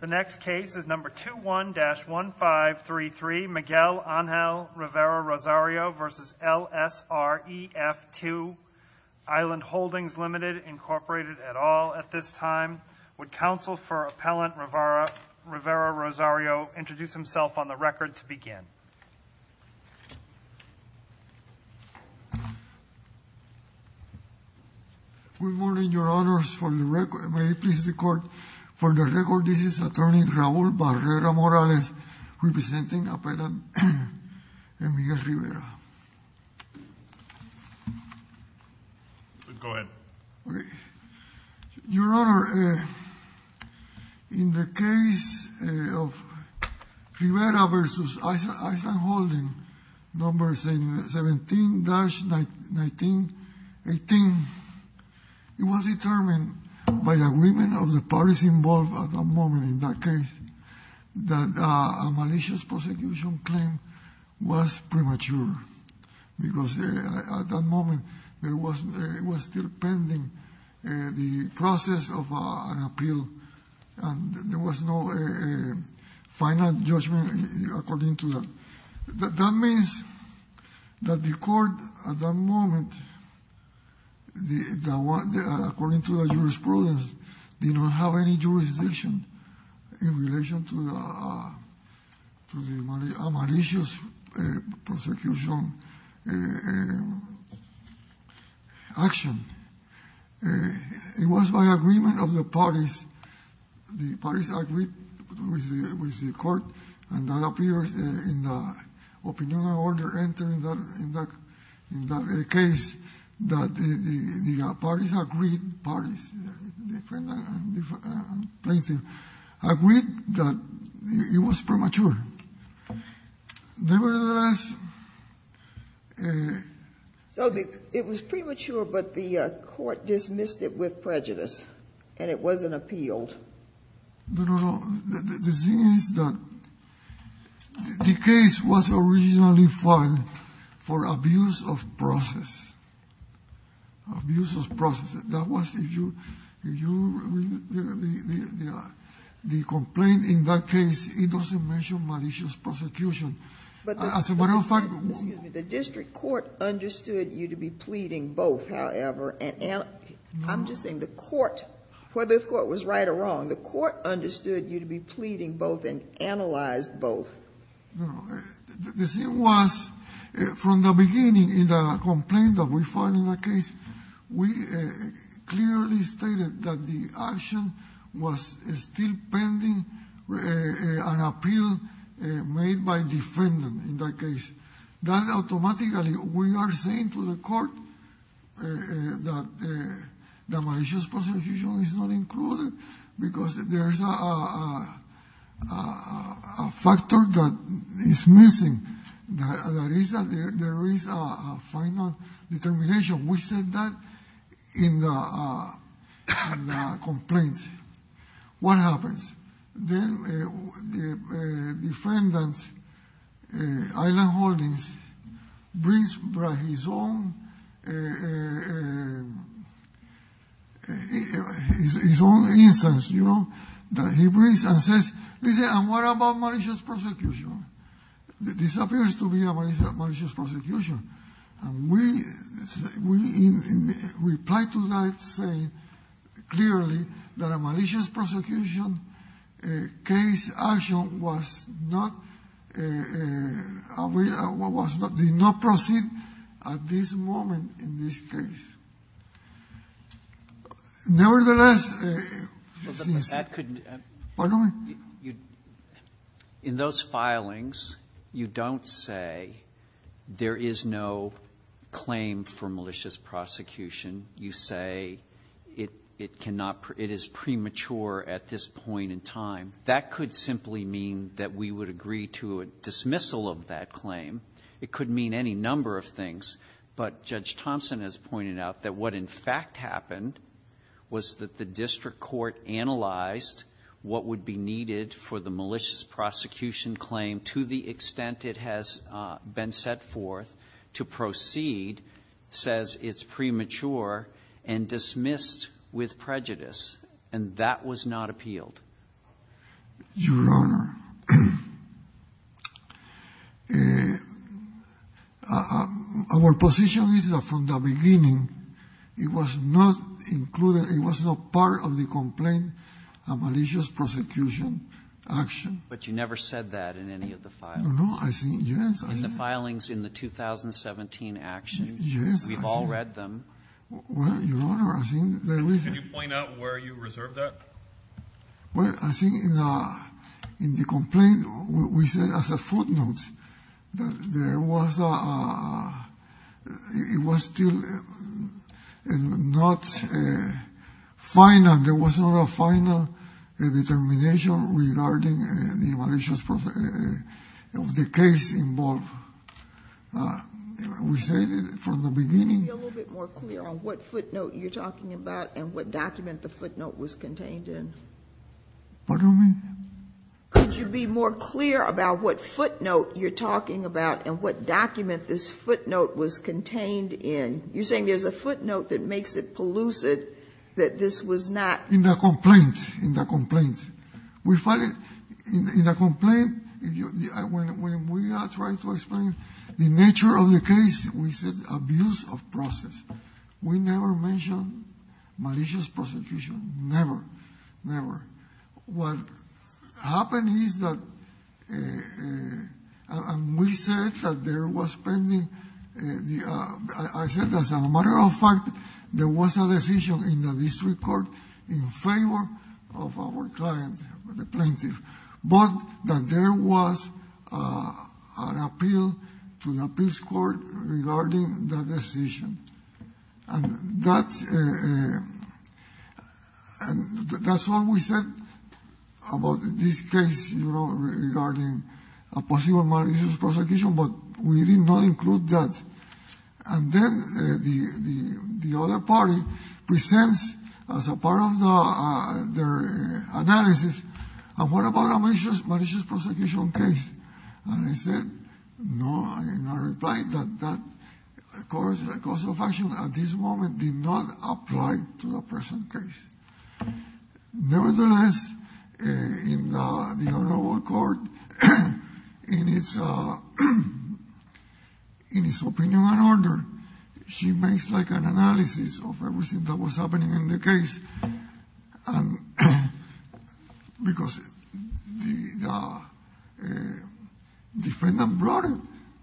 The next case is number 21-1533, Miguel Ángel Rivera-Rosario v. LSREF2 Island Holdings, Ltd., Inc., et al. At this time, would counsel for Appellant Rivera-Rosario introduce himself on the record to begin? Good morning, Your Honors. May it please the Court, for the record, this is Attorney Raul Barrera-Morales representing Appellant Miguel Rivera. Go ahead. Your Honor, in the case of Rivera v. Island Holdings, number 17-1918, it was determined by the women of the parties involved at that moment in that case that a malicious prosecution claim was premature because at that moment it was still pending the process of an appeal and there was no final judgment according to that. That means that the Court at that moment, according to the jurisprudence, did not have any jurisdiction in relation to the malicious prosecution action. It was by agreement of the parties. The parties agreed with the Court and that appears in the opinion of order entering that case that the parties agreed that it was premature. Nevertheless... So it was premature, but the Court dismissed it with prejudice and it wasn't appealed. No, no, no. The thing is that the case was originally filed for abuse of process. Abuse of process. That was the complaint in that case. It doesn't mention malicious prosecution. As a matter of fact... Excuse me. The district court understood you to be pleading both, however. I'm just saying the court, whether the court was right or wrong, the court understood you to be pleading both and analyzed both. No. The thing was, from the beginning in the complaint that we filed in that case, we clearly stated that the action was still pending an appeal made by defendant in that case. That automatically, we are saying to the court that the malicious prosecution is not included because there's a factor that is missing. That is that there is a final determination. We said that in the complaint. What happens? Then the defendant, Island Holdings, brings his own instance, you know, that he brings and says, listen, and what about malicious prosecution? This appears to be a malicious prosecution. And we replied to that saying clearly that a malicious prosecution case action was not, did not proceed at this moment in this case. Nevertheless... Pardon me? In those filings, you don't say there is no claim for malicious prosecution. You say it cannot, it is premature at this point in time. That could simply mean that we would agree to a dismissal of that claim. It could mean any number of things. But Judge Thompson has pointed out that what in fact happened was that the district court analyzed what would be needed for the malicious prosecution claim to the extent it has been set forth to proceed, says it's premature, and dismissed with prejudice. And that was not appealed. Your Honor, our position is that from the beginning, it was not included, it was not part of the complaint, a malicious prosecution action. But you never said that in any of the filings. No, I think, yes. In the filings in the 2017 actions. Yes, I did. We've all read them. Well, Your Honor, I think there is a... Well, I think in the complaint, we said as a footnote that there was a... It was still not final. There was not a final determination regarding the case involved. We said from the beginning... Pardon me? Could you be more clear about what footnote you're talking about and what document this footnote was contained in? You're saying there's a footnote that makes it pellucid, that this was not... In the complaint. In the complaint. In the complaint, when we are trying to explain the nature of the case, we said abuse of process. We never mentioned malicious prosecution. Never, never. What happened is that we said that there was pending... I said that as a matter of fact, there was a decision in the district court in favor of our client, the plaintiff. But that there was an appeal to the appeals court regarding that decision. And that's all we said about this case regarding a possible malicious prosecution, but we did not include that. And then the other party presents as a part of their analysis, and what about a malicious prosecution case? And I said, no. And I replied that that cause of action at this moment did not apply to the present case. Nevertheless, in the honorable court, in its opinion and order, she makes like an analysis of everything that was happening in the case. And because the defendant brought it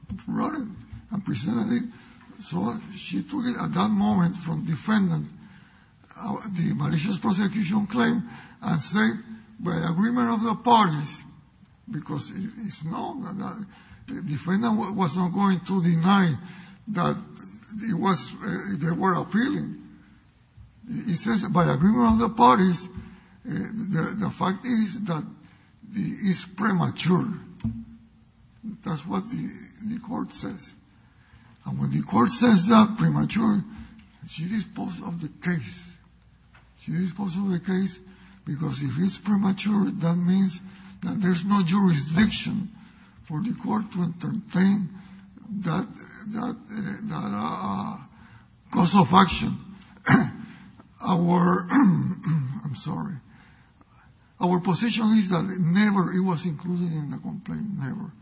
and presented it, so she took it at that moment from defendant. The malicious prosecution claim and said by agreement of the parties, because it's known that the defendant was not going to deny that they were appealing. It says by agreement of the parties, the fact is that it's premature. That's what the court says. And when the court says that premature, she disposed of the case. She disposed of the case because if it's premature, that means that there's no jurisdiction for the court to entertain that cause of action. Our, I'm sorry, our position is that it never, it was included in the complaint, never.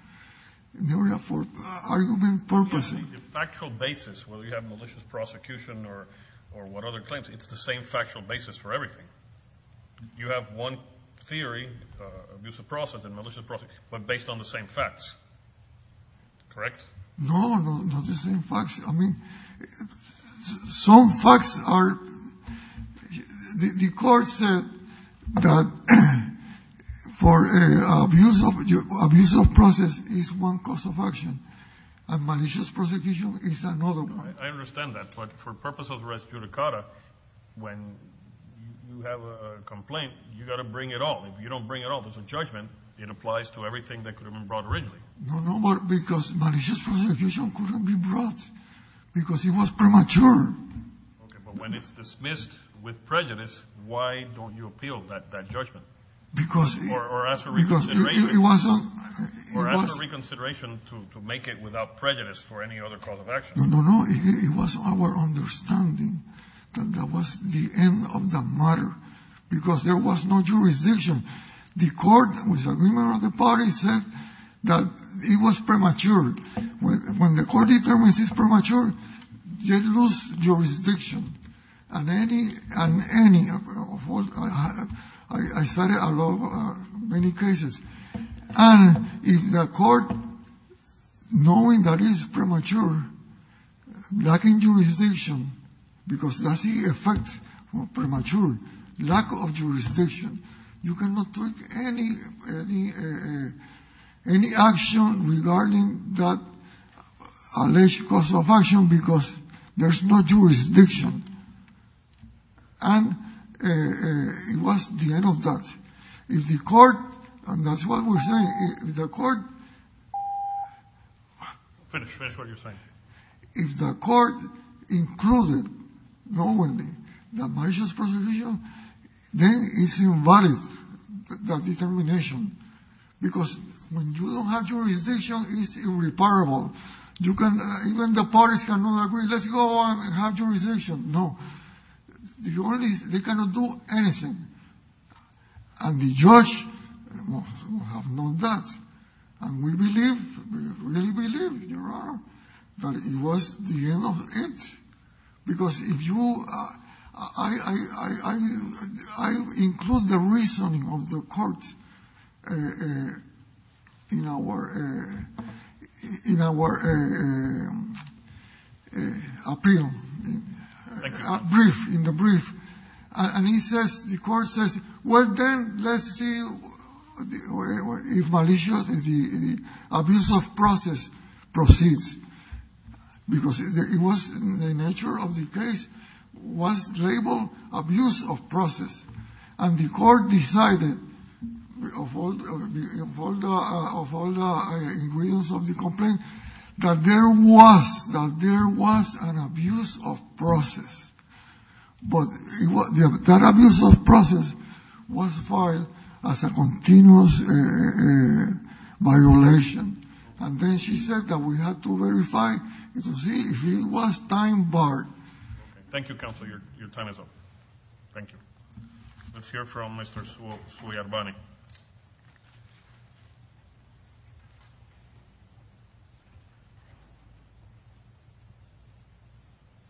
Never for argument purposes. The factual basis, whether you have malicious prosecution or what other claims, it's the same factual basis for everything. You have one theory, abuse of process and malicious prosecution, but based on the same facts, correct? No, no, not the same facts. I mean, some facts are, the court said that for abuse of process is one cause of action, and malicious prosecution is another one. I understand that, but for purpose of res judicata, when you have a complaint, you've got to bring it all. If you don't bring it all, there's a judgment. It applies to everything that could have been brought originally. No, no, but because malicious prosecution couldn't be brought because it was premature. Okay, but when it's dismissed with prejudice, why don't you appeal that judgment? Because it... Or ask for reconsideration. Because it wasn't... Or ask for reconsideration to make it without prejudice for any other cause of action. No, no, no. It was our understanding that that was the end of the matter because there was no jurisdiction. The court, with the agreement of the parties, said that it was premature. When the court determines it's premature, they lose jurisdiction. And any, and any of what... I cited a lot, many cases. And if the court, knowing that it's premature, lacking jurisdiction, because that's the effect of premature, lack of jurisdiction, you cannot take any action regarding that alleged cause of action because there's no jurisdiction. And it was the end of that. If the court, and that's what we're saying, if the court... Finish, finish what you're saying. If the court included, knowing the malicious prosecution, then it's invalid, that determination. Because when you don't have jurisdiction, it's irreparable. You can... Even the parties cannot agree, let's go on and have jurisdiction. No. The only... They cannot do anything. And the judge will have known that. And we believe, we really believe, Your Honor, that it was the end of it. Because if you... I include the reasoning of the court in our, in our appeal. Thank you. Brief, in the brief. And he says, the court says, well then, let's see if malicious, if the abuse of process proceeds. Because it was the nature of the case was labeled abuse of process. And the court decided, of all the ingredients of the complaint, that there was, that there was an abuse of process. But that abuse of process was filed as a continuous violation. And then she said that we have to verify to see if it was time barred. Thank you, counsel. Your time is up. Thank you. Let's hear from Mr. Suyarbhani.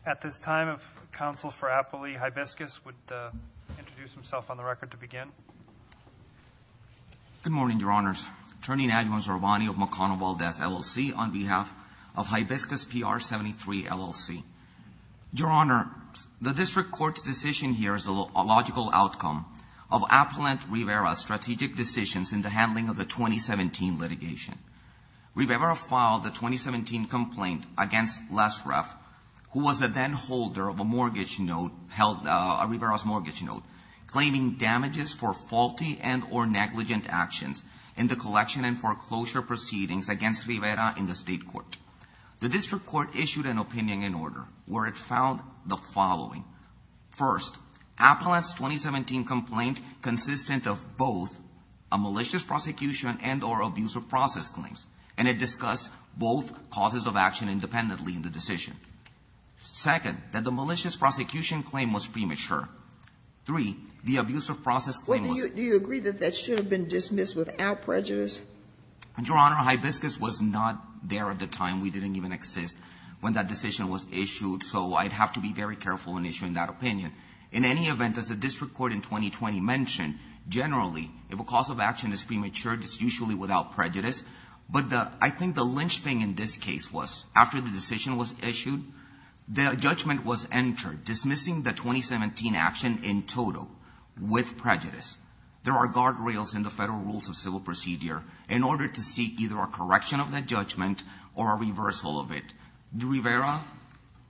At this time of counsel for Appley, Hibiscus would introduce himself on the record to begin. Good morning, Your Honors. Attorney Adjuan Suyarbhani of McConnell-Valdez, LLC, on behalf of Hibiscus PR-73, LLC. Your Honor, the district court's decision here is a logical outcome of Appalent-Rivera's strategic plan. in the handling of the 2017 litigation. Rivera filed the 2017 complaint against Lesref, who was a then-holder of a mortgage note, a Rivera's mortgage note, claiming damages for faulty and or negligent actions in the collection and foreclosure proceedings against Rivera in the state court. The district court issued an opinion in order, where it found the following. First, Appalent's 2017 complaint, consistent of both a malicious prosecution and or abuse of process claims, and it discussed both causes of action independently in the decision. Second, that the malicious prosecution claim was premature. Three, the abuse of process claim was... Do you agree that that should have been dismissed without prejudice? Your Honor, Hibiscus was not there at the time. We didn't even exist when that decision was issued. So I'd have to be very careful in issuing that opinion. In any event, as the district court in 2020 mentioned, generally, if a cause of action is premature, it's usually without prejudice. But I think the lynchpin in this case was, after the decision was issued, the judgment was entered, dismissing the 2017 action in total with prejudice. There are guardrails in the federal rules of civil procedure in order to seek either a correction of that judgment or a reversal of it. Rivera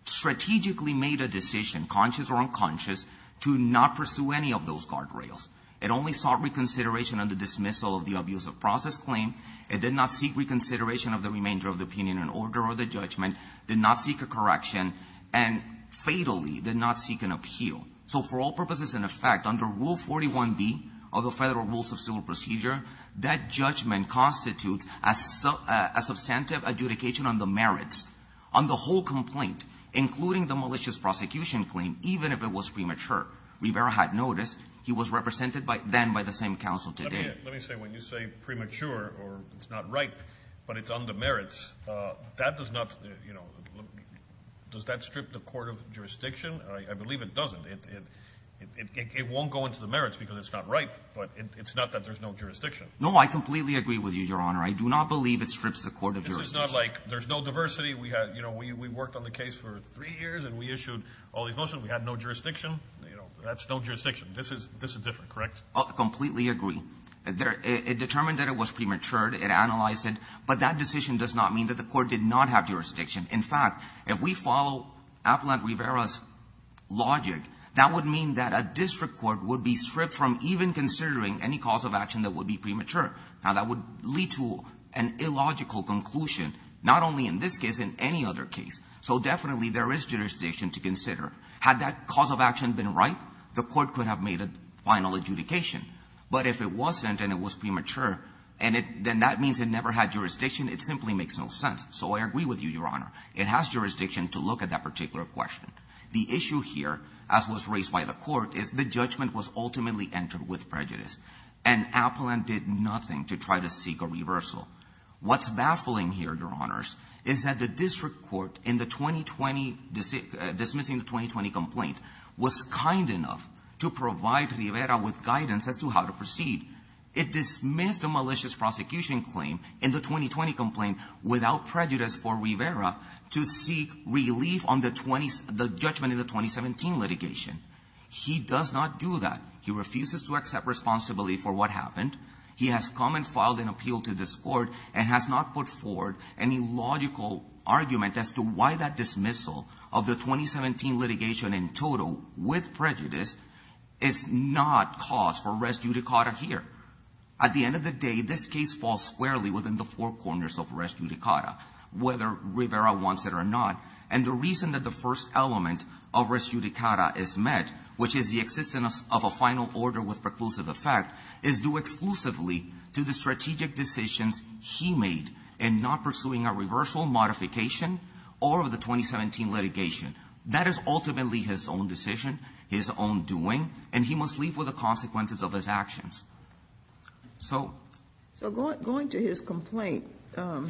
strategically made a decision, conscious or unconscious, to not pursue any of those guardrails. It only sought reconsideration on the dismissal of the abuse of process claim. It did not seek reconsideration of the remainder of the opinion in order or the judgment, did not seek a correction, and fatally did not seek an appeal. So for all purposes in effect, under Rule 41B of the Federal Rules of Civil Procedure, that judgment constitutes a substantive adjudication on the merits, on the whole complaint, including the malicious prosecution claim, even if it was premature. Rivera had noticed. He was represented then by the same counsel today. Let me say, when you say premature, or it's not right, but it's on the merits, that does not, you know, does that strip the court of jurisdiction? I believe it doesn't. It won't go into the merits because it's not right, but it's not that there's no jurisdiction. No, I completely agree with you, Your Honor. I do not believe it strips the court of jurisdiction. This is not like there's no diversity. You know, we worked on the case for three years, and we issued all these motions. We had no jurisdiction. You know, that's no jurisdiction. This is different, correct? I completely agree. It determined that it was premature. It analyzed it. But that decision does not mean that the court did not have jurisdiction. In fact, if we follow Aplante-Rivera's logic, that would mean that a district court would be stripped from even considering any cause of action that would be premature. Now, that would lead to an illogical conclusion, not only in this case, in any other case. So, definitely, there is jurisdiction to consider. Had that cause of action been right, the court could have made a final adjudication. But if it wasn't and it was premature, then that means it never had jurisdiction. It simply makes no sense. So, I agree with you, Your Honor. It has jurisdiction to look at that particular question. The issue here, as was raised by the court, is the judgment was ultimately entered with prejudice. And Aplante did nothing to try to seek a reversal. What's baffling here, Your Honors, is that the district court, in the 2020, dismissing the 2020 complaint, was kind enough to provide Rivera with guidance as to how to proceed. It dismissed a malicious prosecution claim in the 2020 complaint without prejudice for Rivera to seek relief on the judgment in the 2017 litigation. He does not do that. He refuses to accept responsibility for what happened. He has come and filed an appeal to this court and has not put forward any logical argument as to why that dismissal of the 2017 litigation in total, with prejudice, is not cause for res judicata here. At the end of the day, this case falls squarely within the four corners of res judicata, whether Rivera wants it or not. And the reason that the first element of res judicata is met, which is the existence of a final order with preclusive effect, is due exclusively to the strategic decisions he made in not pursuing a reversal, modification, or the 2017 litigation. That is ultimately his own decision, his own doing, and he must leave with the consequences of his actions. So going to his complaint, do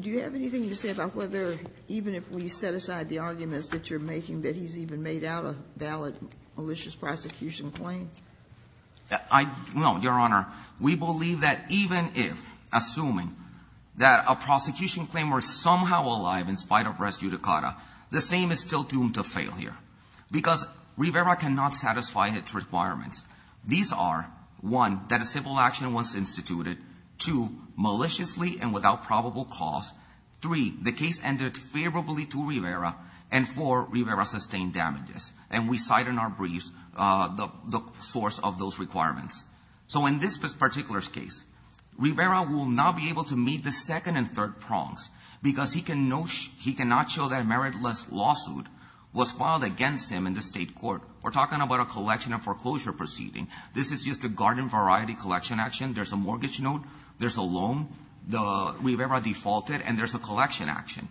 you have anything to say about whether, even if we set aside the arguments that you're making, that he's even made out a valid malicious prosecution claim? No, Your Honor. We believe that even if, assuming that a prosecution claim were somehow alive in spite of res judicata, the same is still doomed to failure. Because Rivera cannot satisfy its requirements. These are, one, that a civil action was instituted, two, maliciously and without probable cause, three, the case ended favorably to Rivera, and four, Rivera sustained damages. And we cite in our briefs the source of those requirements. So in this particular case, Rivera will not be able to meet the second and third prongs because he cannot show that a meritless lawsuit was filed against him in the state court. We're talking about a collection and foreclosure proceeding. This is just a garden variety collection action. There's a mortgage note, there's a loan. Rivera defaulted, and there's a collection action.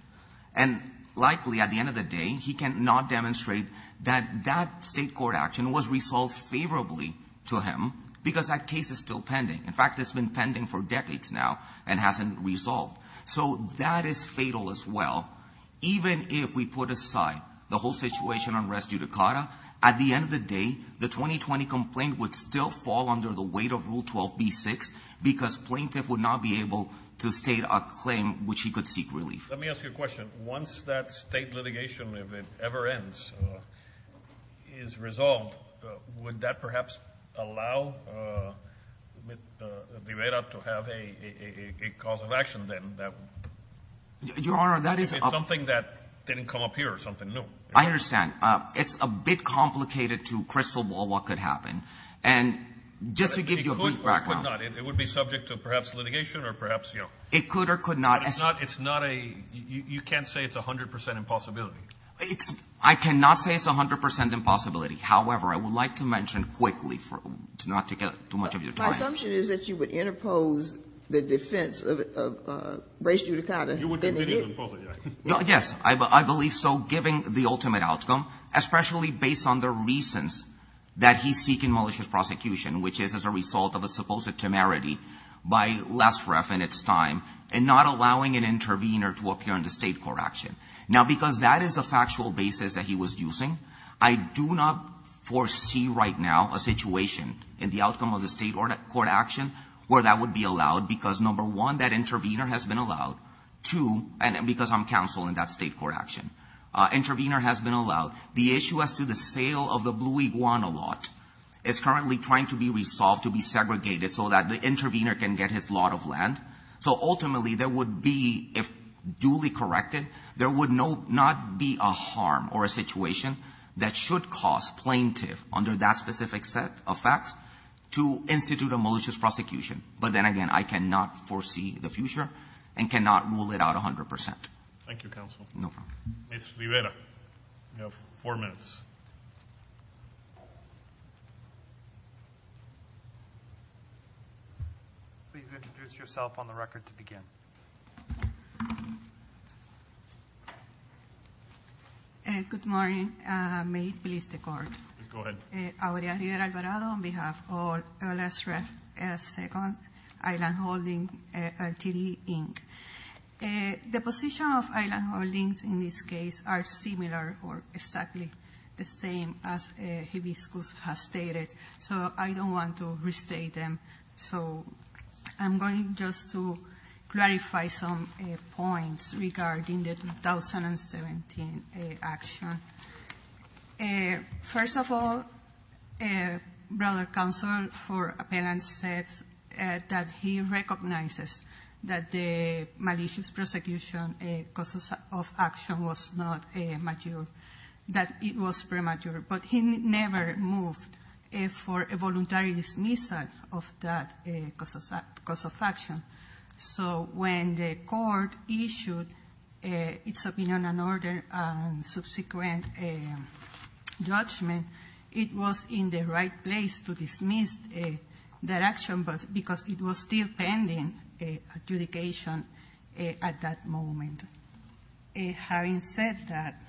And likely, at the end of the day, he cannot demonstrate that that state court action was resolved favorably to him because that case is still pending. In fact, it's been pending for decades now and hasn't resolved. So that is fatal as well. Even if we put aside the whole situation on res judicata, at the end of the day, the 2020 complaint would still fall under the weight of Rule 12b-6 because plaintiff would not be able to state a claim which he could seek relief. Let me ask you a question. Once that state litigation, if it ever ends, is resolved, would that perhaps allow Rivera to have a cause of action then? Your Honor, that is a... If it's something that didn't come up here or something new. I understand. It's a bit complicated to crystal ball what could happen. And just to give you a brief background... It could or could not. It would be subject to perhaps litigation or perhaps... It could or could not. It's not a... You can't say it's 100 percent impossibility. It's... I cannot say it's 100 percent impossibility. However, I would like to mention quickly, not to get too much of your time... My assumption is that you would interpose the defense of res judicata than it is. You would continue to impose it, yes. Yes. which is as a result of a supposed temerity by Lesref in its time and not allowing an intervener to appear in the state court action. Now, because that is a factual basis that he was using, I do not foresee right now a situation in the outcome of the state court action where that would be allowed because, number one, that intervener has been allowed. Two, because I'm counsel in that state court action. Intervener has been allowed. The issue as to the sale of the Blue Iguana lot is currently trying to be resolved to be segregated so that the intervener can get his lot of land. So, ultimately, there would be, if duly corrected, there would not be a harm or a situation that should cause plaintiff, under that specific set of facts, to institute a malicious prosecution. But then again, I cannot foresee the future and cannot rule it out 100 percent. Thank you, counsel. No problem. Ms. Rivera, you have four minutes. Please introduce yourself on the record to begin. Good morning. May it please the court. Go ahead. Aurea Rivera Alvarado on behalf of Lesref Second Island Holding, RTD, Inc. The position of island holdings in this case are similar or exactly the same as Hibiscus has stated. So I don't want to restate them. So I'm going just to clarify some points regarding the 2017 action. First of all, brother counsel for appellant says that he recognizes that the malicious prosecution cause of action was not mature, that it was premature. But he never moved for a voluntary dismissal of that cause of action. So when the court issued its opinion on order and subsequent judgment, it was in the right place to dismiss that action because it was still pending adjudication at that moment. Having said that,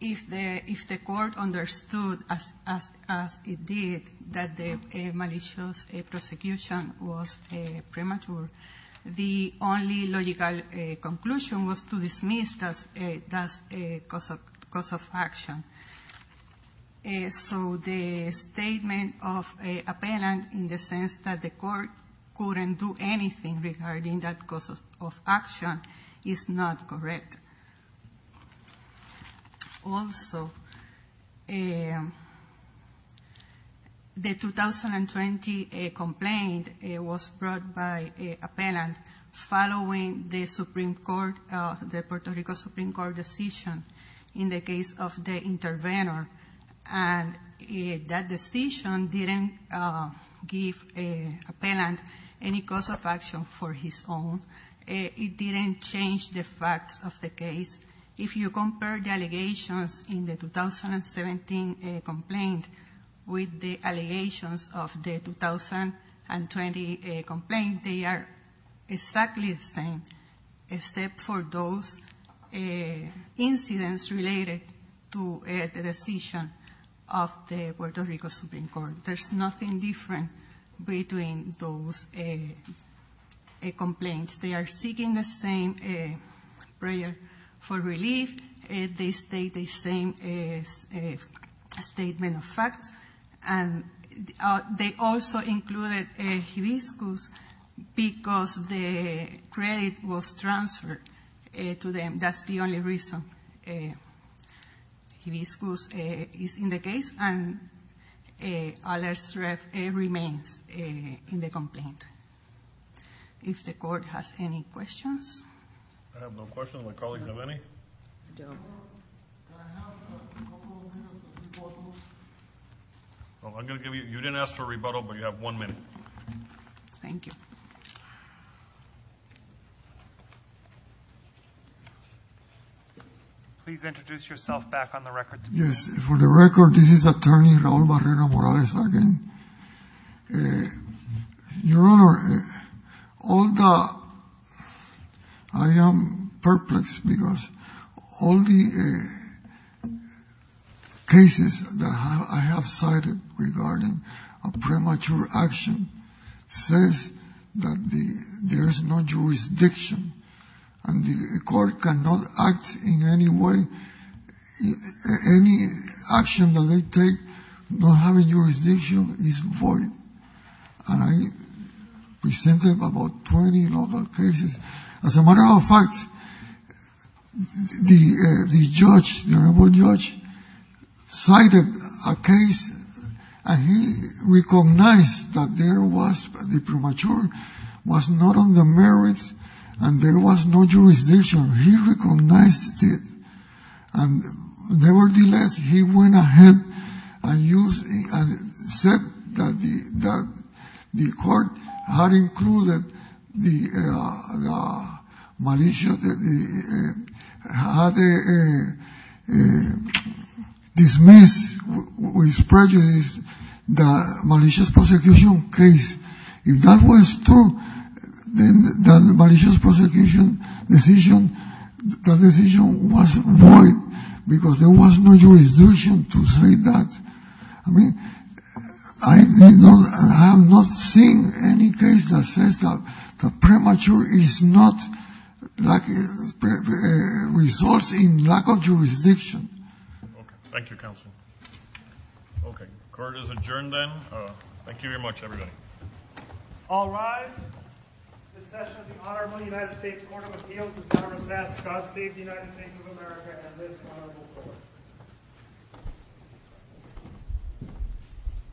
if the court understood, as it did, that the malicious prosecution was premature, the only logical conclusion was to dismiss that cause of action. So the statement of appellant in the sense that the court couldn't do anything regarding that cause of action is not correct. Also, the 2020 complaint was brought by appellant following the Supreme Court, the Puerto Rico Supreme Court decision in the case of the intervenor. And that decision didn't give appellant any cause of action for his own. It didn't change the facts of the case. If you compare the allegations in the 2017 complaint with the allegations of the 2020 complaint, they are exactly the same, except for those incidents related to the decision of the Puerto Rico Supreme Court. There's nothing different between those complaints. They are seeking the same prayer for relief. And they also included hibiscus because the credit was transferred to them. That's the only reason hibiscus is in the case and a lesser remains in the complaint. If the court has any questions. I have no questions. My colleagues have any? No. Well, I'm going to give you, you didn't ask for a rebuttal, but you have one minute. Thank you. Please introduce yourself back on the record. Yes. For the record, this is attorney Raul Barrera-Morales again. Your Honor, I am perplexed because all the cases that I have cited regarding a premature action says that there is no jurisdiction and the court cannot act in any way. Any action that they take not having jurisdiction is void. And I presented about 20 local cases. As a matter of fact, the judge, the honorable judge, cited a case and he recognized that there was a premature, was not on the merits, and there was no jurisdiction. He recognized it. And nevertheless, he went ahead and said that the court had included the malicious, had dismissed with prejudice the malicious prosecution case. If that was true, then the malicious prosecution decision, the decision was void because there was no jurisdiction to say that. I mean, I have not seen any case that says that premature is not like results in lack of jurisdiction. Thank you, counsel. Okay. Court is adjourned then. Thank you very much, everybody. All rise. This session of the Honorable United States Court of Appeals is now recessed. God save the United States of America and this honorable court.